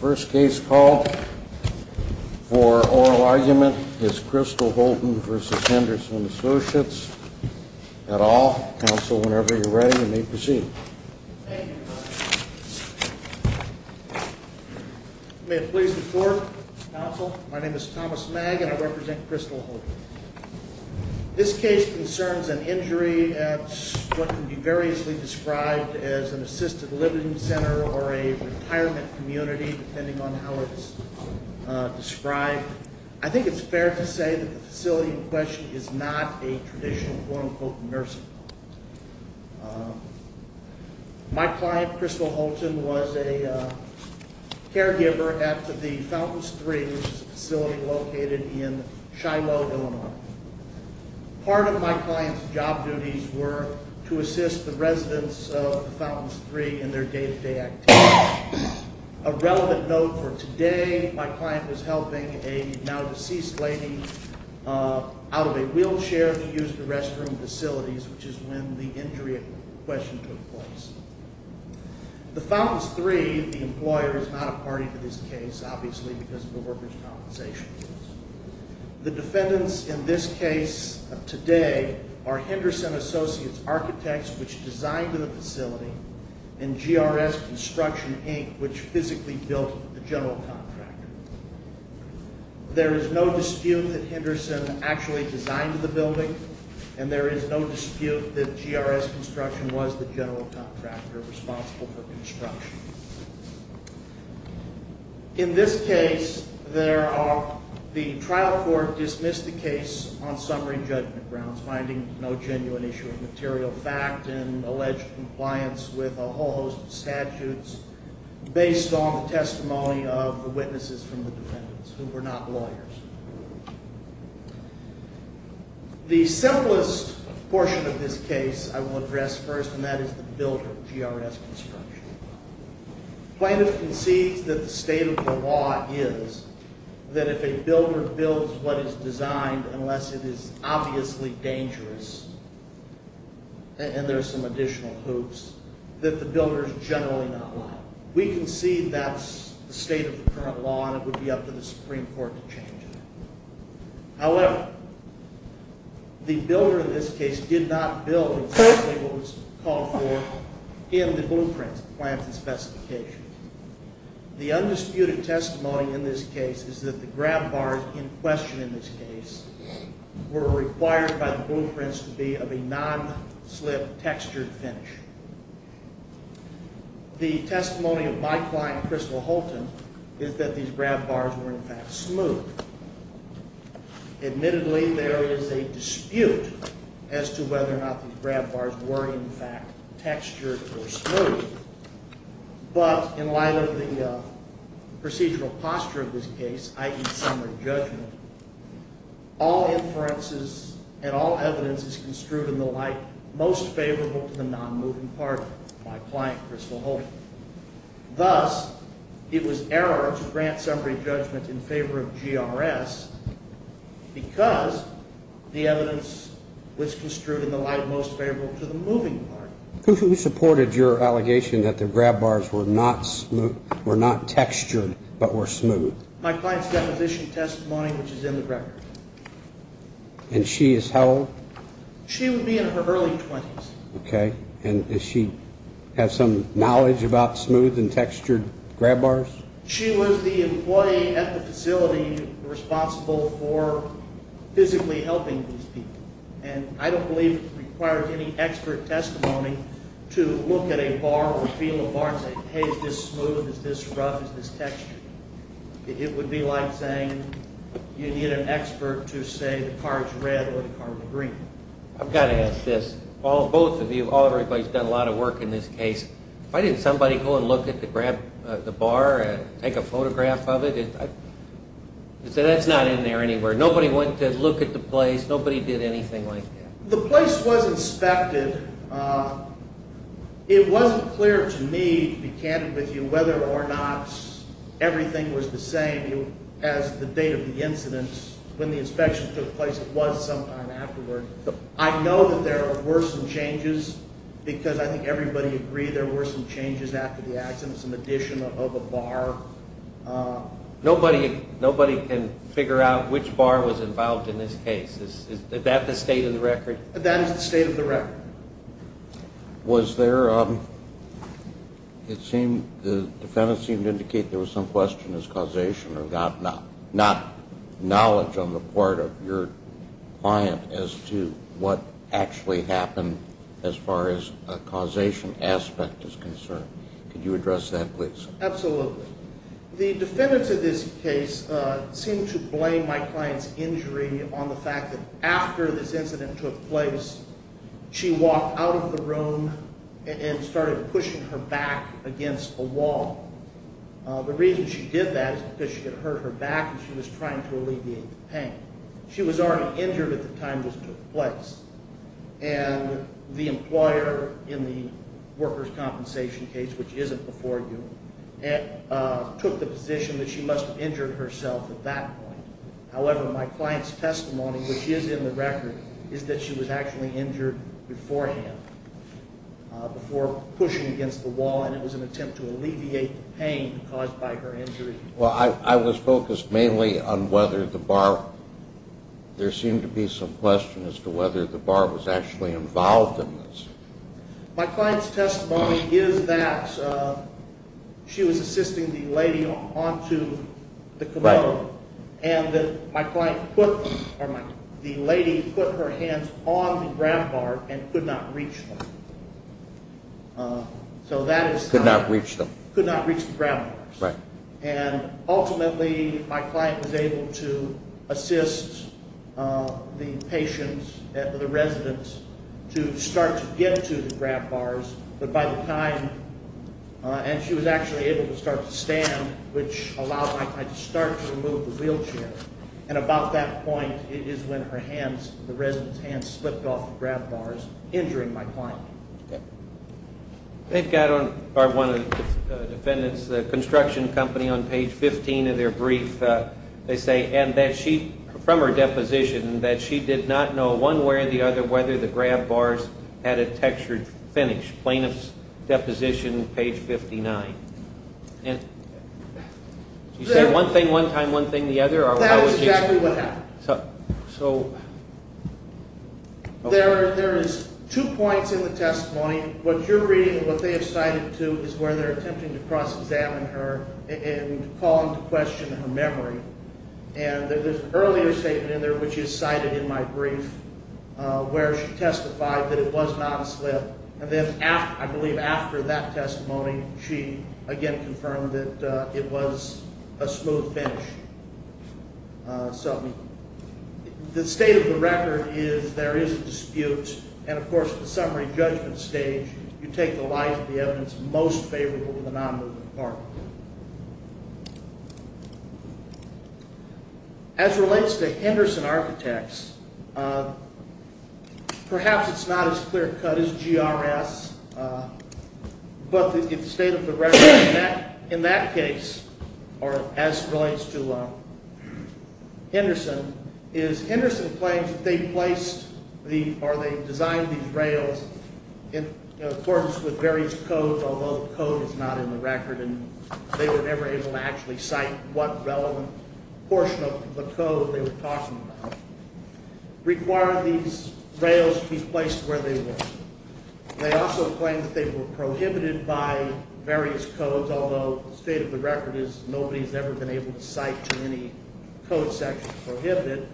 First case called for oral argument is Crystal Holton v. Henderson Associates, et al. Counsel, whenever you're ready, you may proceed. Thank you, Your Honor. May it please the Court, Counsel, my name is Thomas Magg and I represent Crystal Holton. This case concerns an injury at what can be variously described as an assisted living center or a retirement community, depending on how it's described. I think it's fair to say that the facility in question is not a traditional quote-unquote nursing home. My client, Crystal Holton, was a caregiver at the Fountains III, which is a facility located in Shiloh, Illinois. Part of my client's job duties were to assist the residents of the Fountains III in their day-to-day activities. A relevant note for today, my client was helping a now-deceased lady out of a wheelchair to use the restroom facilities, which is when the injury in question took place. The Fountains III, the employer, is not a party to this case, obviously, because of the mortgage compensation. The defendants in this case today are Henderson Associates Architects, which designed the facility, and GRS Construction, Inc., which physically built the general contractor. There is no dispute that Henderson actually designed the building, and there is no dispute that GRS Construction was the general contractor responsible for construction. In this case, the trial court dismissed the case on summary judgment grounds, finding no genuine issue of material fact and alleged compliance with a whole host of statutes, based on the testimony of the witnesses from the defendants, who were not lawyers. The simplest portion of this case I will address first, and that is the builder, GRS Construction. Plaintiffs concede that the state of the law is that if a builder builds what is designed, unless it is obviously dangerous, and there are some additional hoops, that the builder is generally not liable. We concede that's the state of the current law, and it would be up to the Supreme Court to change it. However, the builder in this case did not build exactly what was called for in the blueprints, plans, and specifications. The undisputed testimony in this case is that the grab bars in question in this case were required by the blueprints to be of a non-slip, textured finish. The testimony of my client, Crystal Holton, is that these grab bars were, in fact, smooth. Admittedly, there is a dispute as to whether or not these grab bars were, in fact, textured or smooth, but in light of the procedural posture of this case, i.e., summary judgment, all inferences and all evidence is construed in the light most favorable to the non-moving party, my client, Crystal Holton. Thus, it was error to grant summary judgment in favor of GRS because the evidence was construed in the light most favorable to the moving party. Who supported your allegation that the grab bars were not textured but were smooth? My client's deposition testimony, which is in the record. And she is how old? She would be in her early 20s. Okay, and does she have some knowledge about smooth and textured grab bars? She was the employee at the facility responsible for physically helping these people, and I don't believe it requires any expert testimony to look at a bar or feel a bar and say, hey, is this smooth? Is this rough? Is this textured? It would be like saying you need an expert to say the car is red or the car is green. I've got to ask this. Both of you, all of everybody's done a lot of work in this case. Why didn't somebody go and look at the grab bar and take a photograph of it? That's not in there anywhere. Nobody went to look at the place. Nobody did anything like that. The place was inspected. It wasn't clear to me, to be candid with you, whether or not everything was the same. As the date of the incident, when the inspection took place, it was sometime afterward. I know that there were some changes because I think everybody agreed there were some changes after the accident, some addition of a bar. Nobody can figure out which bar was involved in this case. Is that the state of the record? That is the state of the record. Was there, it seemed, the defendant seemed to indicate there was some question of causation or not knowledge on the part of your client as to what actually happened as far as a causation aspect is concerned. Could you address that, please? Absolutely. The defendants of this case seemed to blame my client's injury on the fact that after this incident took place, she walked out of the room and started pushing her back against a wall. The reason she did that is because she had hurt her back and she was trying to alleviate the pain. She was already injured at the time this took place. And the employer in the workers' compensation case, which isn't before you, took the position that she must have injured herself at that point. However, my client's testimony, which is in the record, is that she was actually injured beforehand before pushing against the wall, and it was an attempt to alleviate the pain caused by her injury. Well, I was focused mainly on whether the bar, there seemed to be some question as to whether the bar was actually involved in this. My client's testimony is that she was assisting the lady onto the commode, and that my client put, or the lady put her hands on the grab bar and could not reach them. Could not reach them. Could not reach the grab bars. And ultimately, my client was able to assist the patient, the resident, to start to get to the grab bars, but by the time, and she was actually able to start to stand, which allowed my client to start to remove the wheelchair. And about that point, it is when her hands, the resident's hands, slipped off the grab bars, injuring my client. They've got on, or one of the defendants, the construction company, on page 15 of their brief, they say, and that she, from her deposition, that she did not know one way or the other whether the grab bars had a textured finish. Plaintiff's deposition, page 59. And she said one thing one time, one thing the other? That was exactly what happened. So there is two points in the testimony. What you're reading and what they have cited, too, is where they're attempting to cross-examine her and call into question her memory. And there's an earlier statement in there, which is cited in my brief, where she testified that it was not a slip. And then I believe after that testimony, she again confirmed that it was a smooth finish. So the state of the record is there is a dispute. And, of course, at the summary judgment stage, you take the lies of the evidence most favorable to the non-moving department. As relates to Henderson Architects, perhaps it's not as clear-cut as GRS, but the state of the record in that case, or as relates to Henderson, is Henderson claims that they placed or they designed these rails in accordance with various codes, although the code is not in the record and they were never able to actually cite what relevant portion of the code they were talking about, required these rails be placed where they were. They also claim that they were prohibited by various codes, although the state of the record is nobody has ever been able to cite any code section prohibited,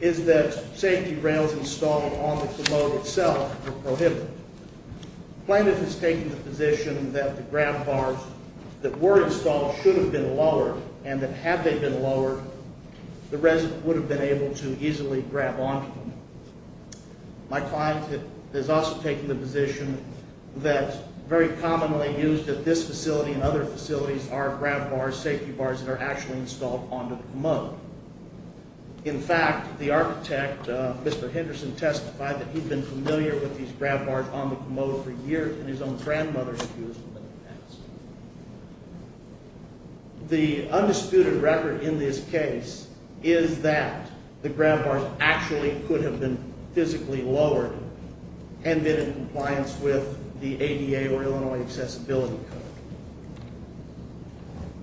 is that safety rails installed on the commode itself were prohibited. The plaintiff has taken the position that the grab bars that were installed should have been lowered and that had they been lowered, the resident would have been able to easily grab onto them. My client has also taken the position that very commonly used at this facility and other facilities are grab bars, safety bars, that are actually installed onto the commode. In fact, the architect, Mr. Henderson, testified that he'd been familiar with these grab bars on the commode for years and his own grandmother had used them in the past. The undisputed record in this case is that the grab bars actually could have been physically lowered and been in compliance with the ADA or Illinois Accessibility Code.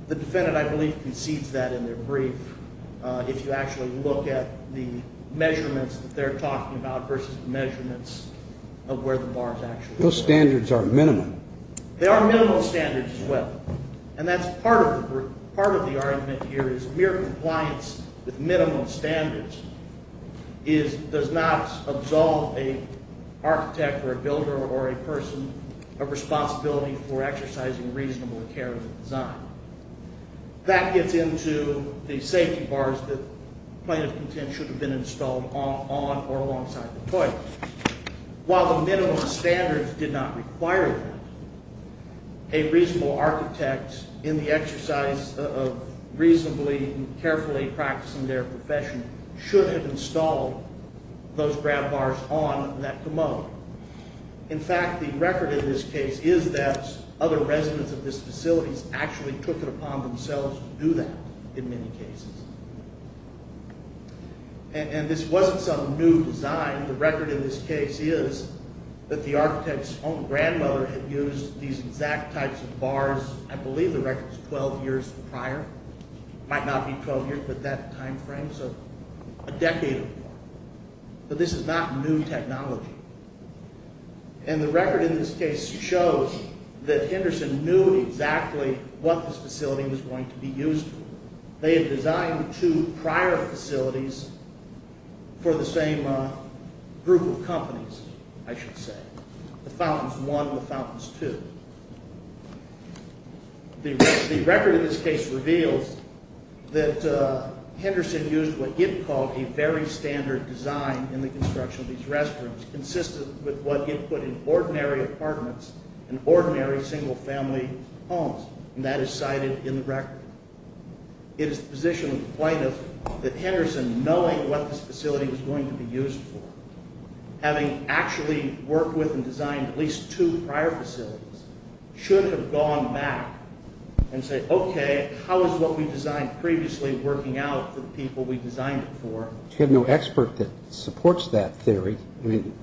The defendant, I believe, concedes that in their brief if you actually look at the measurements that they're talking about versus measurements of where the bars actually are. Those standards are minimum. They are minimum standards as well. And that's part of the argument here is mere compliance with minimum standards does not absolve an architect or a builder or a person of responsibility for exercising reasonable care of the design. That gets into the safety bars that plaintiff contends should have been installed on or alongside the toilets. While the minimum standards did not require that, a reasonable architect in the exercise of reasonably and carefully practicing their profession should have installed those grab bars on that commode. In fact, the record in this case is that other residents of this facility actually took it upon themselves to do that in many cases. And this wasn't some new design. The record in this case is that the architect's own grandmother had used these exact types of bars, I believe the record is 12 years prior. It might not be 12 years, but that time frame is a decade. But this is not new technology. And the record in this case shows that Henderson knew exactly what this facility was going to be used for. They had designed two prior facilities for the same group of companies, I should say, the Fountains I and the Fountains II. The record in this case reveals that Henderson used what Yip called a very standard design in the construction of these restrooms, consistent with what Yip put in ordinary apartments and ordinary single-family homes, and that is cited in the record. It is the position of the plaintiff that Henderson, knowing what this facility was going to be used for, having actually worked with and designed at least two prior facilities, should have gone back and said, okay, how is what we designed previously working out for the people we designed it for? You have no expert that supports that theory. I mean,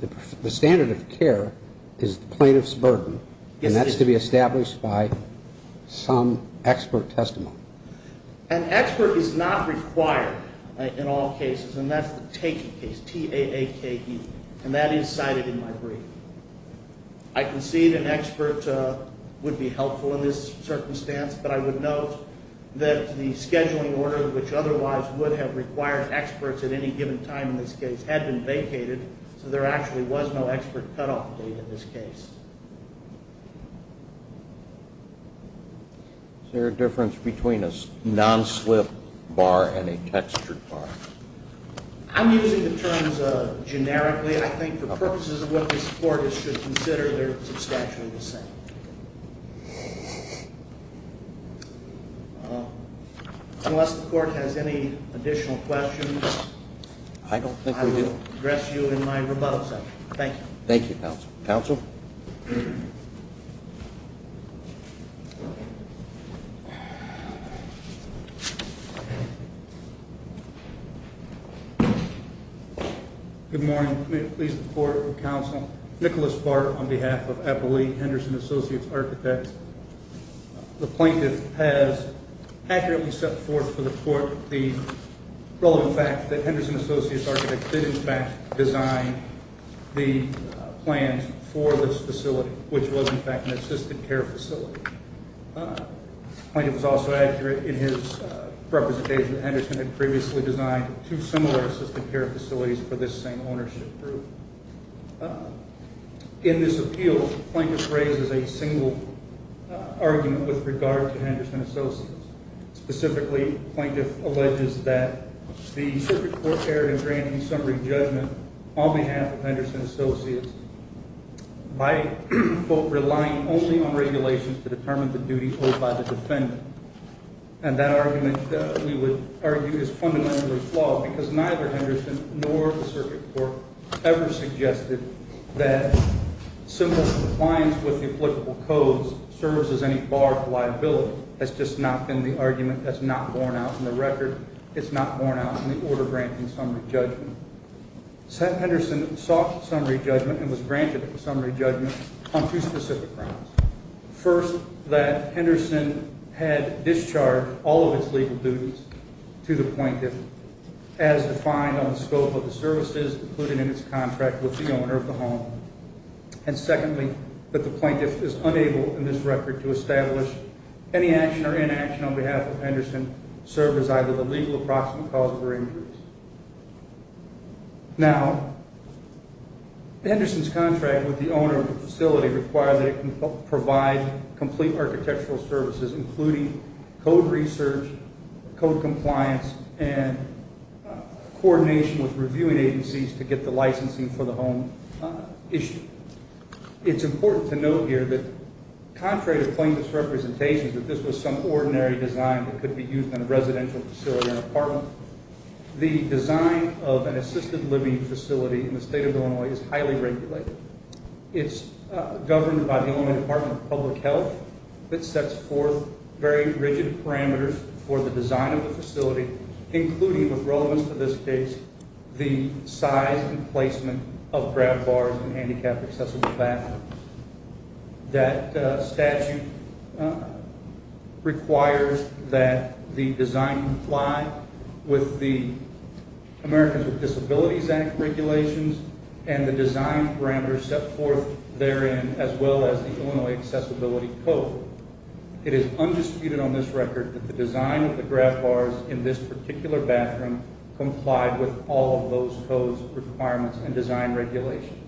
the standard of care is the plaintiff's burden, and that's to be established by some expert testimony. An expert is not required in all cases, and that's the taking case, T-A-A-K-E, and that is cited in my brief. I concede an expert would be helpful in this circumstance, but I would note that the scheduling order, which otherwise would have required experts at any given time in this case, had been vacated, so there actually was no expert cutoff date in this case. Is there a difference between a non-slip bar and a textured bar? I'm using the terms generically. I think for purposes of what this Court should consider, they're substantially the same. Unless the Court has any additional questions, I don't think we do. I will address you in my rebuttal session. Thank you. Thank you, Counsel. Counsel? Good morning. May it please the Court and Counsel, Nicholas Barr on behalf of Eppley Henderson Associates Architects. The plaintiff has accurately set forth for the Court the relevant fact that Henderson Associates Architects did, in fact, design the plans for this facility, which was, in fact, an assisted care facility. The plaintiff was also accurate in his representation that Henderson had previously designed two similar assisted care facilities for this same ownership group. In this appeal, the plaintiff raises a single argument with regard to Henderson Associates. Specifically, the plaintiff alleges that the Circuit Court erred in granting summary judgment on behalf of Henderson Associates by, quote, relying only on regulations to determine the duties owed by the defendant. And that argument, we would argue, is fundamentally flawed because neither Henderson nor the Circuit Court ever suggested that simple compliance with the applicable codes serves as any bar of liability. That's just not been the argument that's not borne out in the record. It's not borne out in the order granting summary judgment. Henderson sought summary judgment and was granted a summary judgment on two specific grounds. First, that Henderson had discharged all of its legal duties to the plaintiff. As defined on the scope of the services included in its contract with the owner of the home. And secondly, that the plaintiff is unable in this record to establish any action or inaction on behalf of Henderson serve as either the legal approximate cause of her injuries. Now, Henderson's contract with the owner of the facility required that it provide complete architectural services, including code research, code compliance, and coordination with reviewing agencies to get the licensing for the home issued. It's important to note here that, contrary to plaintiff's representation, that this was some ordinary design that could be used in a residential facility or an apartment, the design of an assisted living facility in the state of Illinois is highly regulated. It's governed by the Illinois Department of Public Health. It sets forth very rigid parameters for the design of the facility, including, with relevance to this case, the size and placement of grab bars and handicapped accessible bathrooms. That statute requires that the design comply with the Americans with Disabilities Act regulations and the design parameters set forth therein, as well as the Illinois Accessibility Code. It is undisputed on this record that the design of the grab bars in this particular bathroom complied with all of those codes, requirements, and design regulations.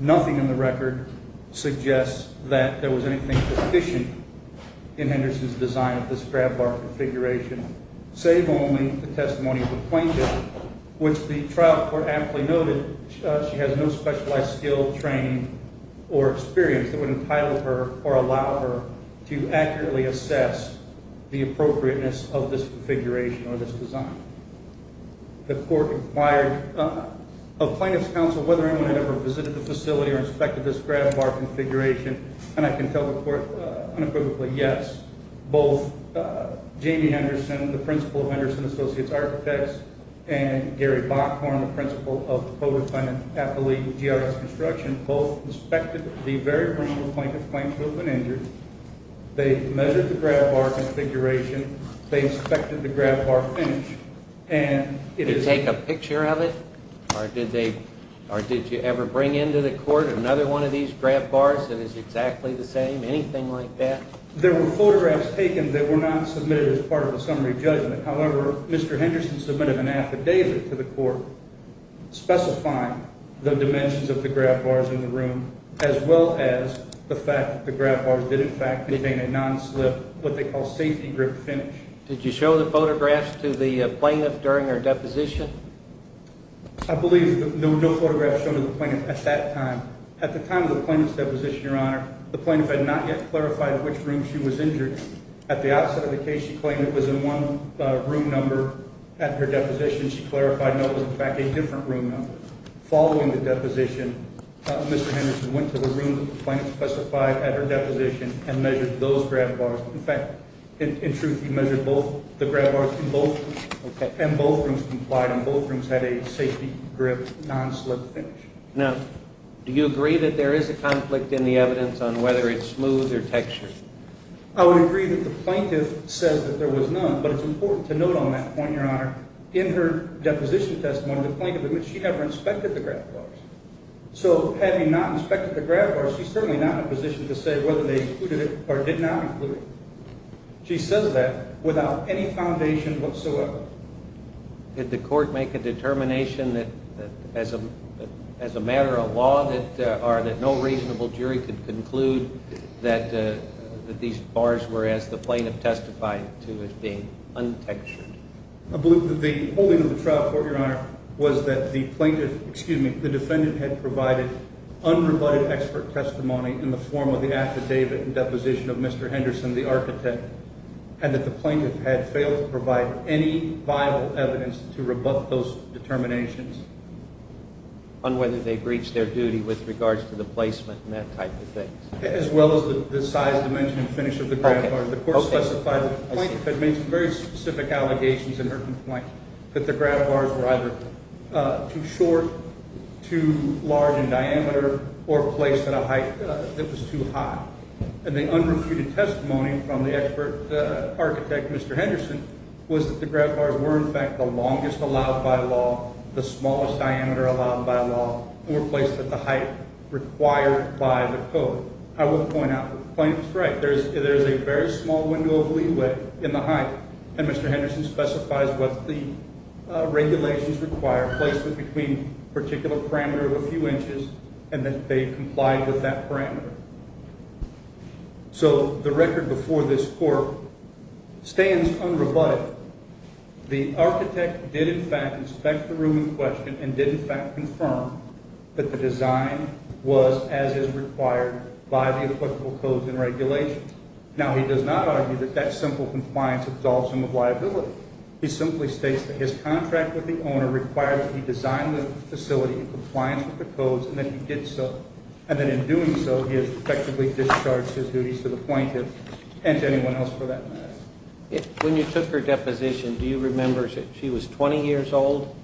Nothing in the record suggests that there was anything sufficient in Henderson's design of this grab bar configuration, save only the testimony of the plaintiff, which the trial court aptly noted she has no specialized skill, training, or experience that would entitle her or allow her to accurately assess the appropriateness of this configuration or this design. The court inquired of plaintiff's counsel whether anyone had ever visited the facility or inspected this grab bar configuration, and I can tell the court unequivocally, yes. Both Jamie Henderson, the principal of Henderson Associates Architects, and Gary Bockhorn, the principal of Poverty Appellee GRS Construction, both inspected the very ground the plaintiff claims to have been injured. They measured the grab bar configuration. They inspected the grab bar finish. Did they take a picture of it? Or did you ever bring into the court another one of these grab bars that is exactly the same, anything like that? There were photographs taken that were not submitted as part of the summary judgment. However, Mr. Henderson submitted an affidavit to the court specifying the dimensions of the grab bars in the room as well as the fact that the grab bars did in fact contain a non-slip, what they call safety grip finish. Did you show the photographs to the plaintiff during her deposition? I believe there were no photographs shown to the plaintiff at that time. At the time of the plaintiff's deposition, Your Honor, the plaintiff had not yet clarified which room she was injured. At the outset of the case, she claimed it was in one room number at her deposition. She clarified no, it was in fact a different room number. Following the deposition, Mr. Henderson went to the room that the plaintiff specified at her deposition and measured those grab bars. In fact, in truth, he measured both the grab bars in both rooms. And both rooms complied, and both rooms had a safety grip, non-slip finish. Now, do you agree that there is a conflict in the evidence on whether it's smooth or textured? I would agree that the plaintiff says that there was none, but it's important to note on that point, Your Honor, in her deposition testimony, the plaintiff admits she never inspected the grab bars. So, having not inspected the grab bars, she's certainly not in a position to say whether they included it or did not include it. She says that without any foundation whatsoever. Did the court make a determination that, as a matter of law, that no reasonable jury could conclude that these bars were, as the plaintiff testified to, as being untextured? The holding of the trial court, Your Honor, was that the defendant had provided unrebutted expert testimony in the form of the affidavit and deposition of Mr. Henderson, the architect, and that the plaintiff had failed to provide any vital evidence to rebut those determinations. On whether they breached their duty with regards to the placement and that type of thing? As well as the size, dimension, and finish of the grab bars. The court specified that the plaintiff had made some very specific allegations in her complaint that the grab bars were either too short, too large in diameter, or placed at a height that was too high. And the unrebutted testimony from the architect, Mr. Henderson, was that the grab bars were, in fact, the longest allowed by law, the smallest diameter allowed by law, or placed at the height required by the code. I will point out that the plaintiff is correct. There is a very small window of leeway in the height, and Mr. Henderson specifies what the regulations require, placement between a particular parameter of a few inches, and that they complied with that parameter. So the record before this court stands unrebutted. The architect did, in fact, inspect the room in question and did, in fact, confirm that the design was as is required by the applicable codes and regulations. Now, he does not argue that that simple compliance absolves him of liability. He simply states that his contract with the owner required that he design the facility in compliance with the codes, and that he did so. And that in doing so, he has effectively discharged his duties to the plaintiff and to anyone else for that matter. When you took her deposition, do you remember, she was 20 years old?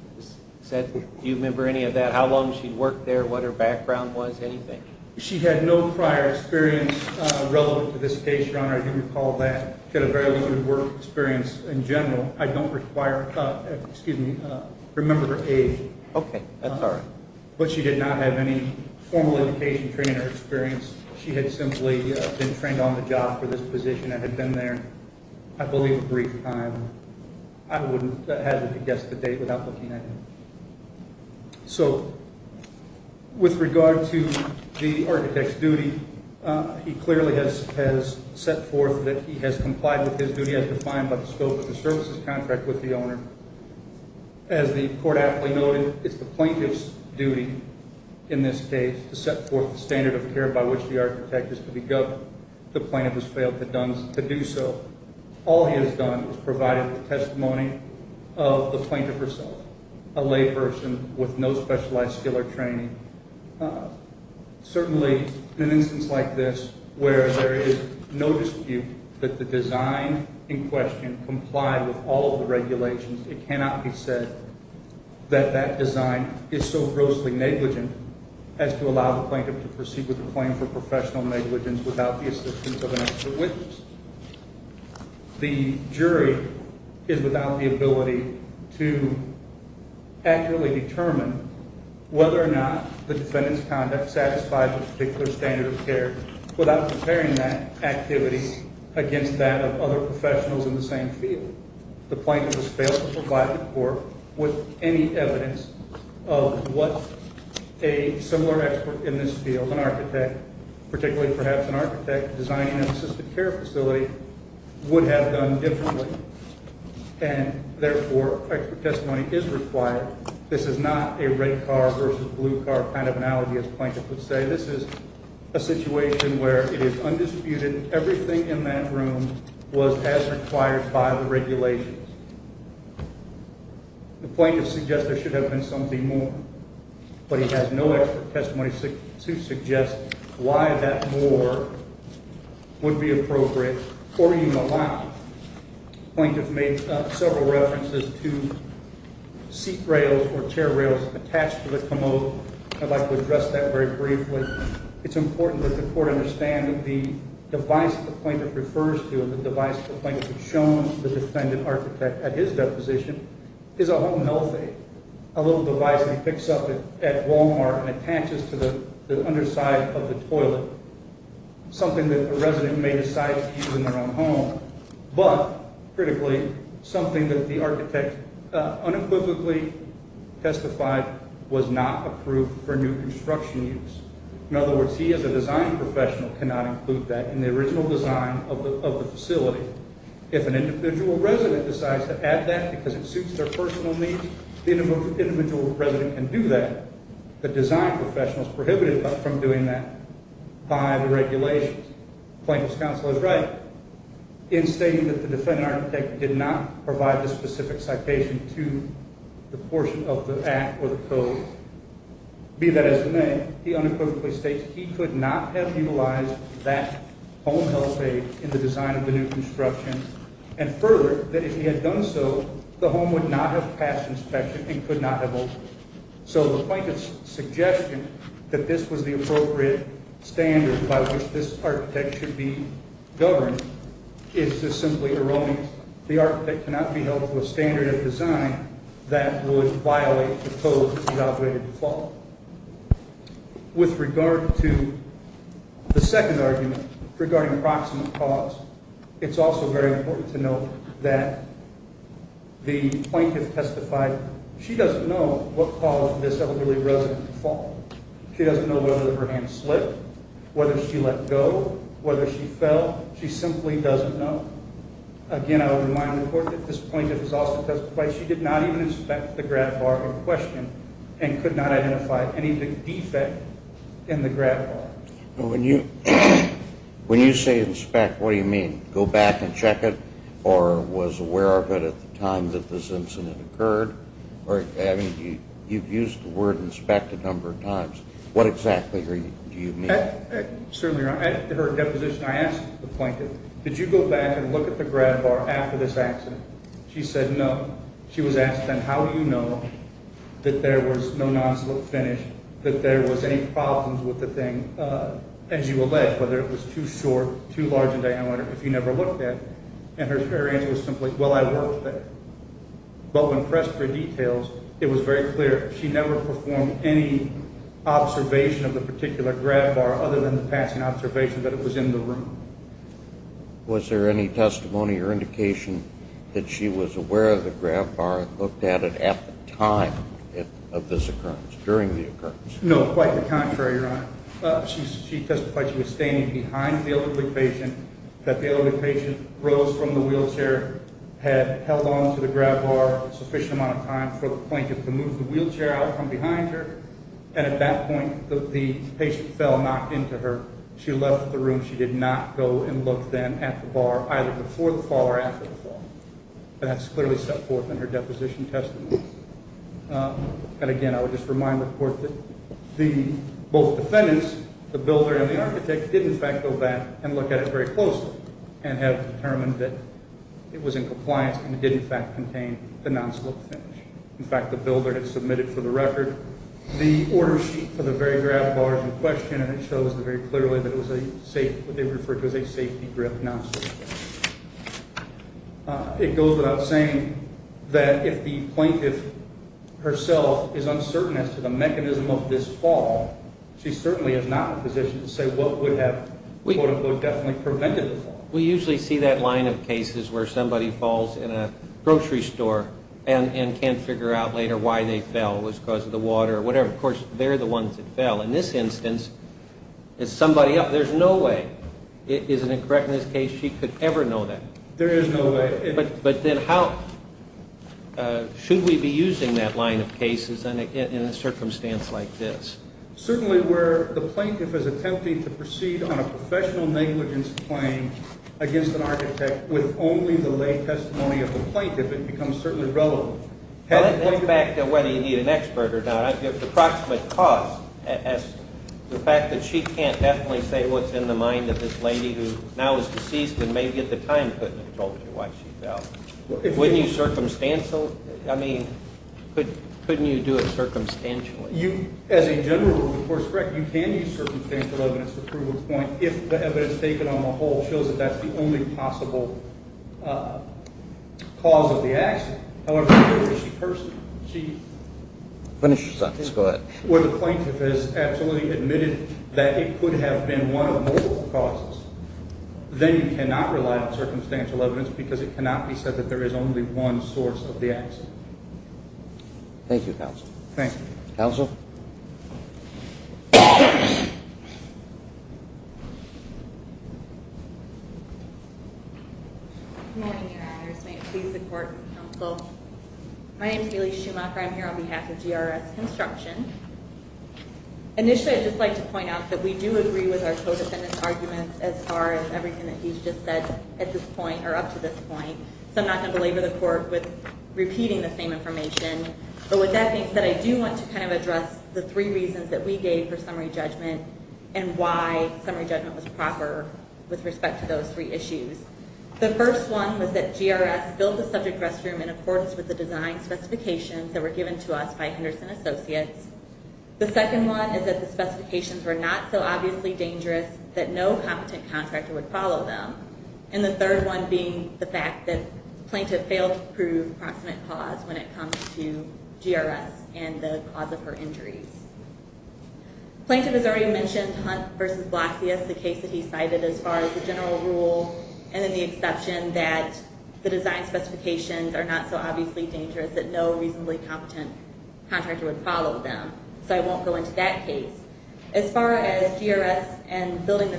Do you remember any of that, how long she'd worked there, what her background was, anything? She had no prior experience relevant to this case, Your Honor. I do recall that. She had a very good work experience in general. I don't remember her age. Okay, that's all right. But she did not have any formal education training or experience. She had simply been trained on the job for this position and had been there, I believe, a brief time. I wouldn't hazard to guess the date without looking at it. So, with regard to the architect's duty, he clearly has set forth that he has complied with his duty as defined by the scope of the services contract with the owner. As the court aptly noted, it's the plaintiff's duty in this case to set forth the standard of care by which the architect is to be governed. The plaintiff has failed to do so. All he has done is provided the testimony of the plaintiff herself, a layperson with no specialized skill or training. Certainly, in an instance like this where there is no dispute that the design in question complied with all of the regulations, it cannot be said that that design is so grossly negligent as to allow the plaintiff to proceed with a claim for professional negligence without the assistance of an extra witness. The jury is without the ability to accurately determine whether or not the defendant's conduct satisfies a particular standard of care without comparing that activity against that of other professionals in the same field. The plaintiff has failed to provide the court with any evidence of what a similar expert in this field, an architect, particularly perhaps an architect designing an assisted care facility, would have done differently. And, therefore, expert testimony is required. This is not a red car versus blue car kind of analogy, as the plaintiff would say. This is a situation where it is undisputed everything in that room was as required by the regulations. The plaintiff suggests there should have been something more, but he has no expert testimony to suggest why that more would be appropriate or even allowed. The plaintiff made several references to seat rails or chair rails attached to the commode. I'd like to address that very briefly. It's important that the court understand that the device the plaintiff refers to and the device the plaintiff has shown the defendant architect at his deposition is a home health aid, a little device that he picks up at Wal-Mart and attaches to the underside of the toilet, something that a resident may decide to use in their own home. But, critically, something that the architect unequivocally testified was not approved for new construction use. In other words, he as a design professional cannot include that in the original design of the facility. If an individual resident decides to add that because it suits their personal needs, the individual resident can do that. The design professional is prohibited from doing that by the regulations. The plaintiff's counsel is right in stating that the defendant architect did not provide the specific citation to the portion of the act or the code. Be that as it may, he unequivocally states he could not have utilized that home health aid in the design of the new construction, and further, that if he had done so, the home would not have passed inspection and could not have opened. So the plaintiff's suggestion that this was the appropriate standard by which this architect should be governed is just simply erroneous. The architect cannot be held to a standard of design that would violate the code's evaluated default. With regard to the second argument regarding proximate cause, it's also very important to note that the plaintiff testified she doesn't know what caused this elderly resident to fall. She doesn't know whether her hand slipped, whether she let go, whether she fell. She simply doesn't know. Again, I would remind the court that this plaintiff has also testified she did not even inspect the grab bar in question and could not identify any of the defect in the grab bar. When you say inspect, what do you mean? Go back and check it or was aware of it at the time that this incident occurred? You've used the word inspect a number of times. What exactly do you mean? Certainly, Your Honor. At her deposition, I asked the plaintiff, did you go back and look at the grab bar after this accident? She said no. She was asked then, how do you know that there was no non-slip finish, that there was any problems with the thing, as you allege, whether it was too short, too large a diameter, if you never looked at it. And her answer was simply, well, I worked with it. But when pressed for details, it was very clear she never performed any observation of the particular grab bar other than the passing observation that it was in the room. Was there any testimony or indication that she was aware of the grab bar and looked at it at the time of this occurrence, during the occurrence? No, quite the contrary, Your Honor. She testified she was standing behind the elderly patient, that the elderly patient rose from the wheelchair, had held on to the grab bar a sufficient amount of time for the plaintiff to move the wheelchair out from behind her, and at that point, the patient fell, knocked into her. She left the room. She did not go and look then at the bar, either before the fall or after the fall. That's clearly set forth in her deposition testimony. And again, I would just remind the Court that both defendants, the builder and the architect, did in fact go back and look at it very closely and have determined that it was in compliance and it did in fact contain the non-slip finish. In fact, the builder had submitted for the record the order sheet for the very grab bars in question, and it shows very clearly that it was what they referred to as a safety grab non-slip. It goes without saying that if the plaintiff herself is uncertain as to the mechanism of this fall, she certainly is not in a position to say what would have, quote-unquote, definitely prevented the fall. We usually see that line of cases where somebody falls in a grocery store and can't figure out later why they fell. It was because of the water or whatever. Of course, they're the ones that fell. In this instance, it's somebody else. There's no way, is it correct in this case, she could ever know that? There is no way. But then how should we be using that line of cases in a circumstance like this? Certainly where the plaintiff is attempting to proceed on a professional negligence claim against an architect with only the lay testimony of the plaintiff, it becomes certainly relevant. Let's go back to whether you need an expert or not. The approximate cost, the fact that she can't definitely say what's in the mind of this lady who now is deceased and maybe at the time couldn't have told you why she fell. Wouldn't you circumstantial? I mean, couldn't you do it circumstantially? As a general rule, of course, correct, you can use circumstantial evidence to prove a point if the evidence taken on the whole shows that that's the only possible cause of the accident. However, if the plaintiff has absolutely admitted that it could have been one of multiple causes, then you cannot rely on circumstantial evidence because it cannot be said that there is only one source of the accident. Thank you, counsel. Thank you. Counsel? Good morning, Your Honors. May it please the court and counsel, my name is Hailey Schumacher. I'm here on behalf of GRS Construction. Initially, I'd just like to point out that we do agree with our co-defendant's arguments as far as everything that he's just said at this point or up to this point, so I'm not going to belabor the court with repeating the same information. But with that being said, I do want to kind of address the three reasons that we gave for summary judgment and why summary judgment was proper with respect to those three issues. The first one was that GRS built the subject restroom in accordance with the design specifications that were given to us by Henderson Associates. The second one is that the specifications were not so obviously dangerous that no competent contractor would follow them. And the third one being the fact that the plaintiff failed to prove approximate cause when it comes to GRS and the cause of her injuries. The plaintiff has already mentioned Hunt v. Blasius, the case that he cited as far as the general rule, and then the exception that the design specifications are not so obviously dangerous that no reasonably competent contractor would follow them, so I won't go into that case. As far as GRS and building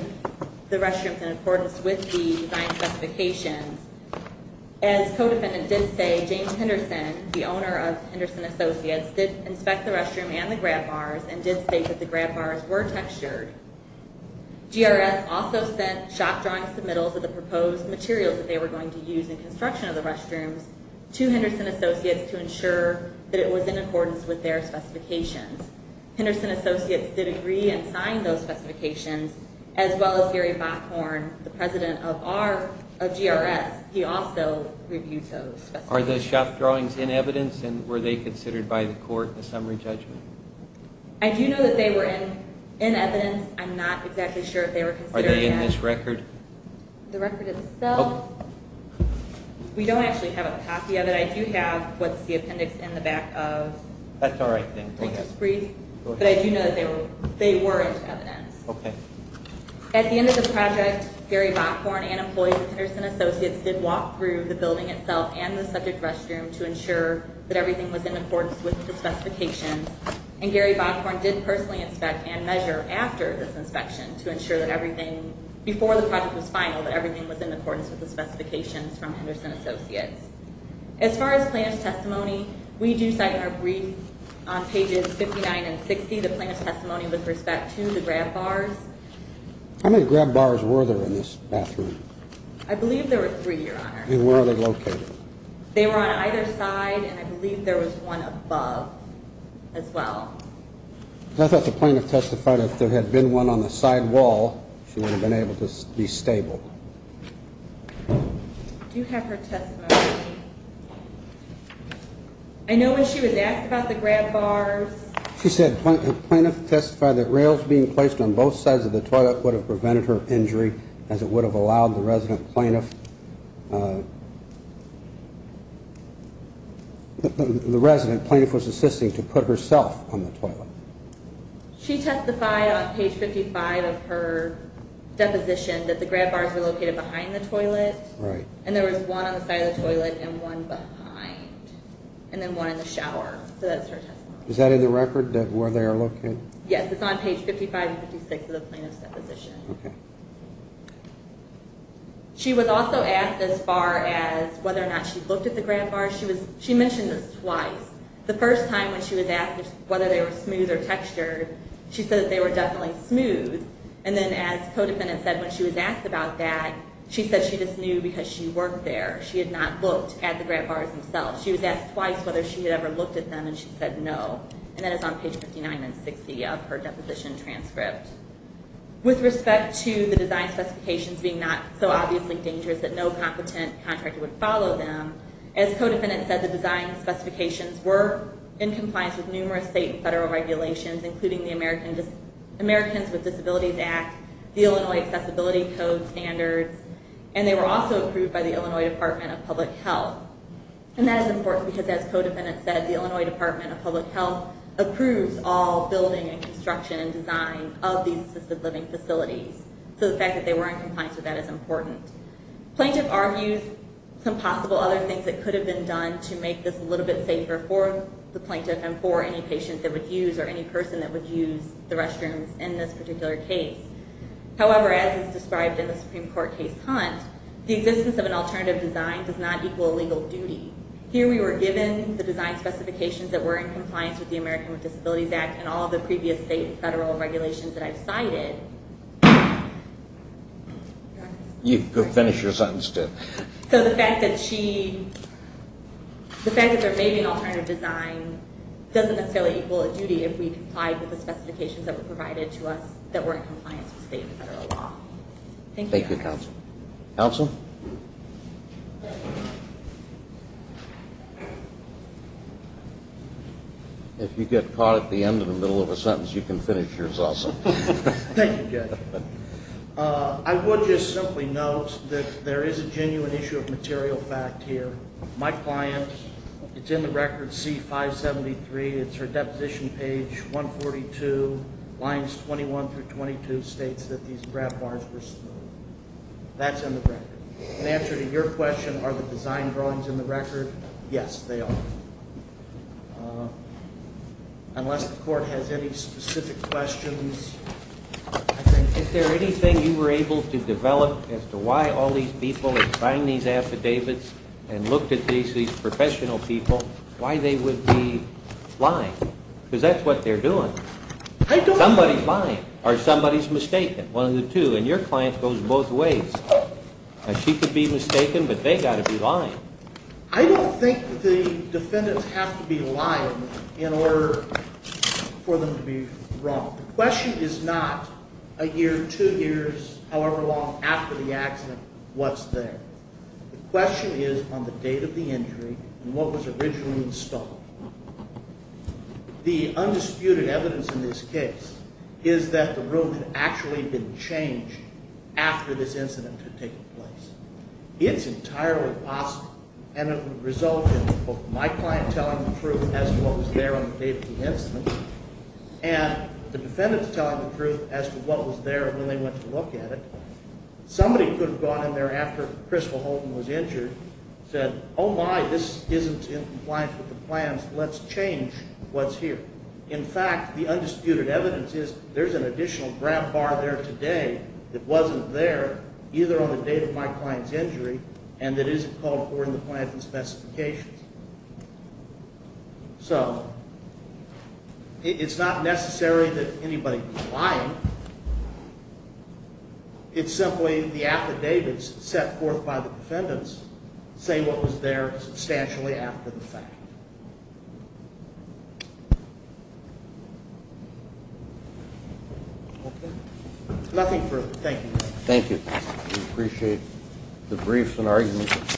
the restroom in accordance with the design specifications, as co-defendant did say, James Henderson, the owner of Henderson Associates, did inspect the restroom and the grab bars and did state that the grab bars were textured. GRS also sent shop drawings submittals of the proposed materials that they were going to use in construction of the restrooms to Henderson Associates to ensure that it was in accordance with their specifications. Henderson Associates did agree and signed those specifications, as well as Gary Bockhorn, the president of GRS, he also reviewed those specifications. Are those shop drawings in evidence, and were they considered by the court in the summary judgment? I do know that they were in evidence. I'm not exactly sure if they were considered in evidence. Are they in this record? The record itself? We don't actually have a copy of it. But I do have what's the appendix in the back of my test brief. But I do know that they were in evidence. At the end of the project, Gary Bockhorn and employees of Henderson Associates did walk through the building itself and the subject restroom to ensure that everything was in accordance with the specifications, and Gary Bockhorn did personally inspect and measure after this inspection to ensure that everything, before the project was final, that everything was in accordance with the specifications from Henderson Associates. As far as plaintiff's testimony, we do cite in our brief on pages 59 and 60, the plaintiff's testimony with respect to the grab bars. How many grab bars were there in this bathroom? I believe there were three, Your Honor. And where are they located? They were on either side, and I believe there was one above as well. I thought the plaintiff testified if there had been one on the side wall, she would have been able to be stable. Do you have her testimony? I know when she was asked about the grab bars. She said the plaintiff testified that rails being placed on both sides of the toilet would have prevented her injury as it would have allowed the resident plaintiff. The resident plaintiff was assisting to put herself on the toilet. She testified on page 55 of her deposition that the grab bars were located behind the toilet. Right. And there was one on the side of the toilet and one behind, and then one in the shower. So that's her testimony. Is that in the record where they are located? Yes, it's on page 55 and 56 of the plaintiff's deposition. Okay. She was also asked as far as whether or not she looked at the grab bars. She mentioned this twice. The first time when she was asked whether they were smooth or textured, she said that they were definitely smooth. And then as the co-defendant said, when she was asked about that, she said she just knew because she worked there. She had not looked at the grab bars themselves. She was asked twice whether she had ever looked at them, and she said no. And that is on page 59 and 60 of her deposition transcript. With respect to the design specifications being not so obviously dangerous that no competent contractor would follow them, as co-defendants said, the design specifications were in compliance with numerous state and federal regulations, including the Americans with Disabilities Act, the Illinois Accessibility Code Standards, and they were also approved by the Illinois Department of Public Health. And that is important because, as co-defendants said, the Illinois Department of Public Health approves all building and construction and design of these assisted living facilities. So the fact that they were in compliance with that is important. Plaintiff argues some possible other things that could have been done to make this a little bit safer for the plaintiff and for any patient that would use or any person that would use the restrooms in this particular case. However, as is described in the Supreme Court case Hunt, the existence of an alternative design does not equal a legal duty. Here we were given the design specifications that were in compliance with the Americans with Disabilities Act and all the previous state and federal regulations that I've cited. You can finish your sentence, too. So the fact that she, the fact that there may be an alternative design doesn't necessarily equal a duty if we complied with the specifications that were provided to us that were in compliance with state and federal law. Thank you. Thank you, counsel. Counsel? If you get caught at the end of the middle of a sentence, you can finish yours also. Thank you, Judge. I would just simply note that there is a genuine issue of material fact here. My client, it's in the record C573. It's her deposition page 142, lines 21 through 22 states that these grab bars were smooth. That's in the record. In answer to your question, are the design drawings in the record? Yes, they are. Unless the court has any specific questions. Is there anything you were able to develop as to why all these people have signed these affidavits and looked at these professional people, why they would be lying? Because that's what they're doing. Somebody's lying or somebody's mistaken, one of the two. And your client goes both ways. She could be mistaken, but they've got to be lying. I don't think the defendants have to be lying in order for them to be wrong. The question is not a year, two years, however long after the accident, what's there. The question is on the date of the injury and what was originally installed. The undisputed evidence in this case is that the room had actually been changed after this incident had taken place. It's entirely possible, and it would result in both my client telling the truth as to what was there on the day of the incident and the defendants telling the truth as to what was there when they went to look at it. Somebody could have gone in there after Crystal Holton was injured and said, Oh, my, this isn't in compliance with the plans. Let's change what's here. In fact, the undisputed evidence is there's an additional grab bar there today that wasn't there either on the date of my client's injury and that isn't called for in the client's specifications. So it's not necessary that anybody was lying. It's simply the affidavits set forth by the defendants say what was there substantially after the fact. Okay. Nothing further. Thank you. Thank you. We appreciate the briefs and arguments.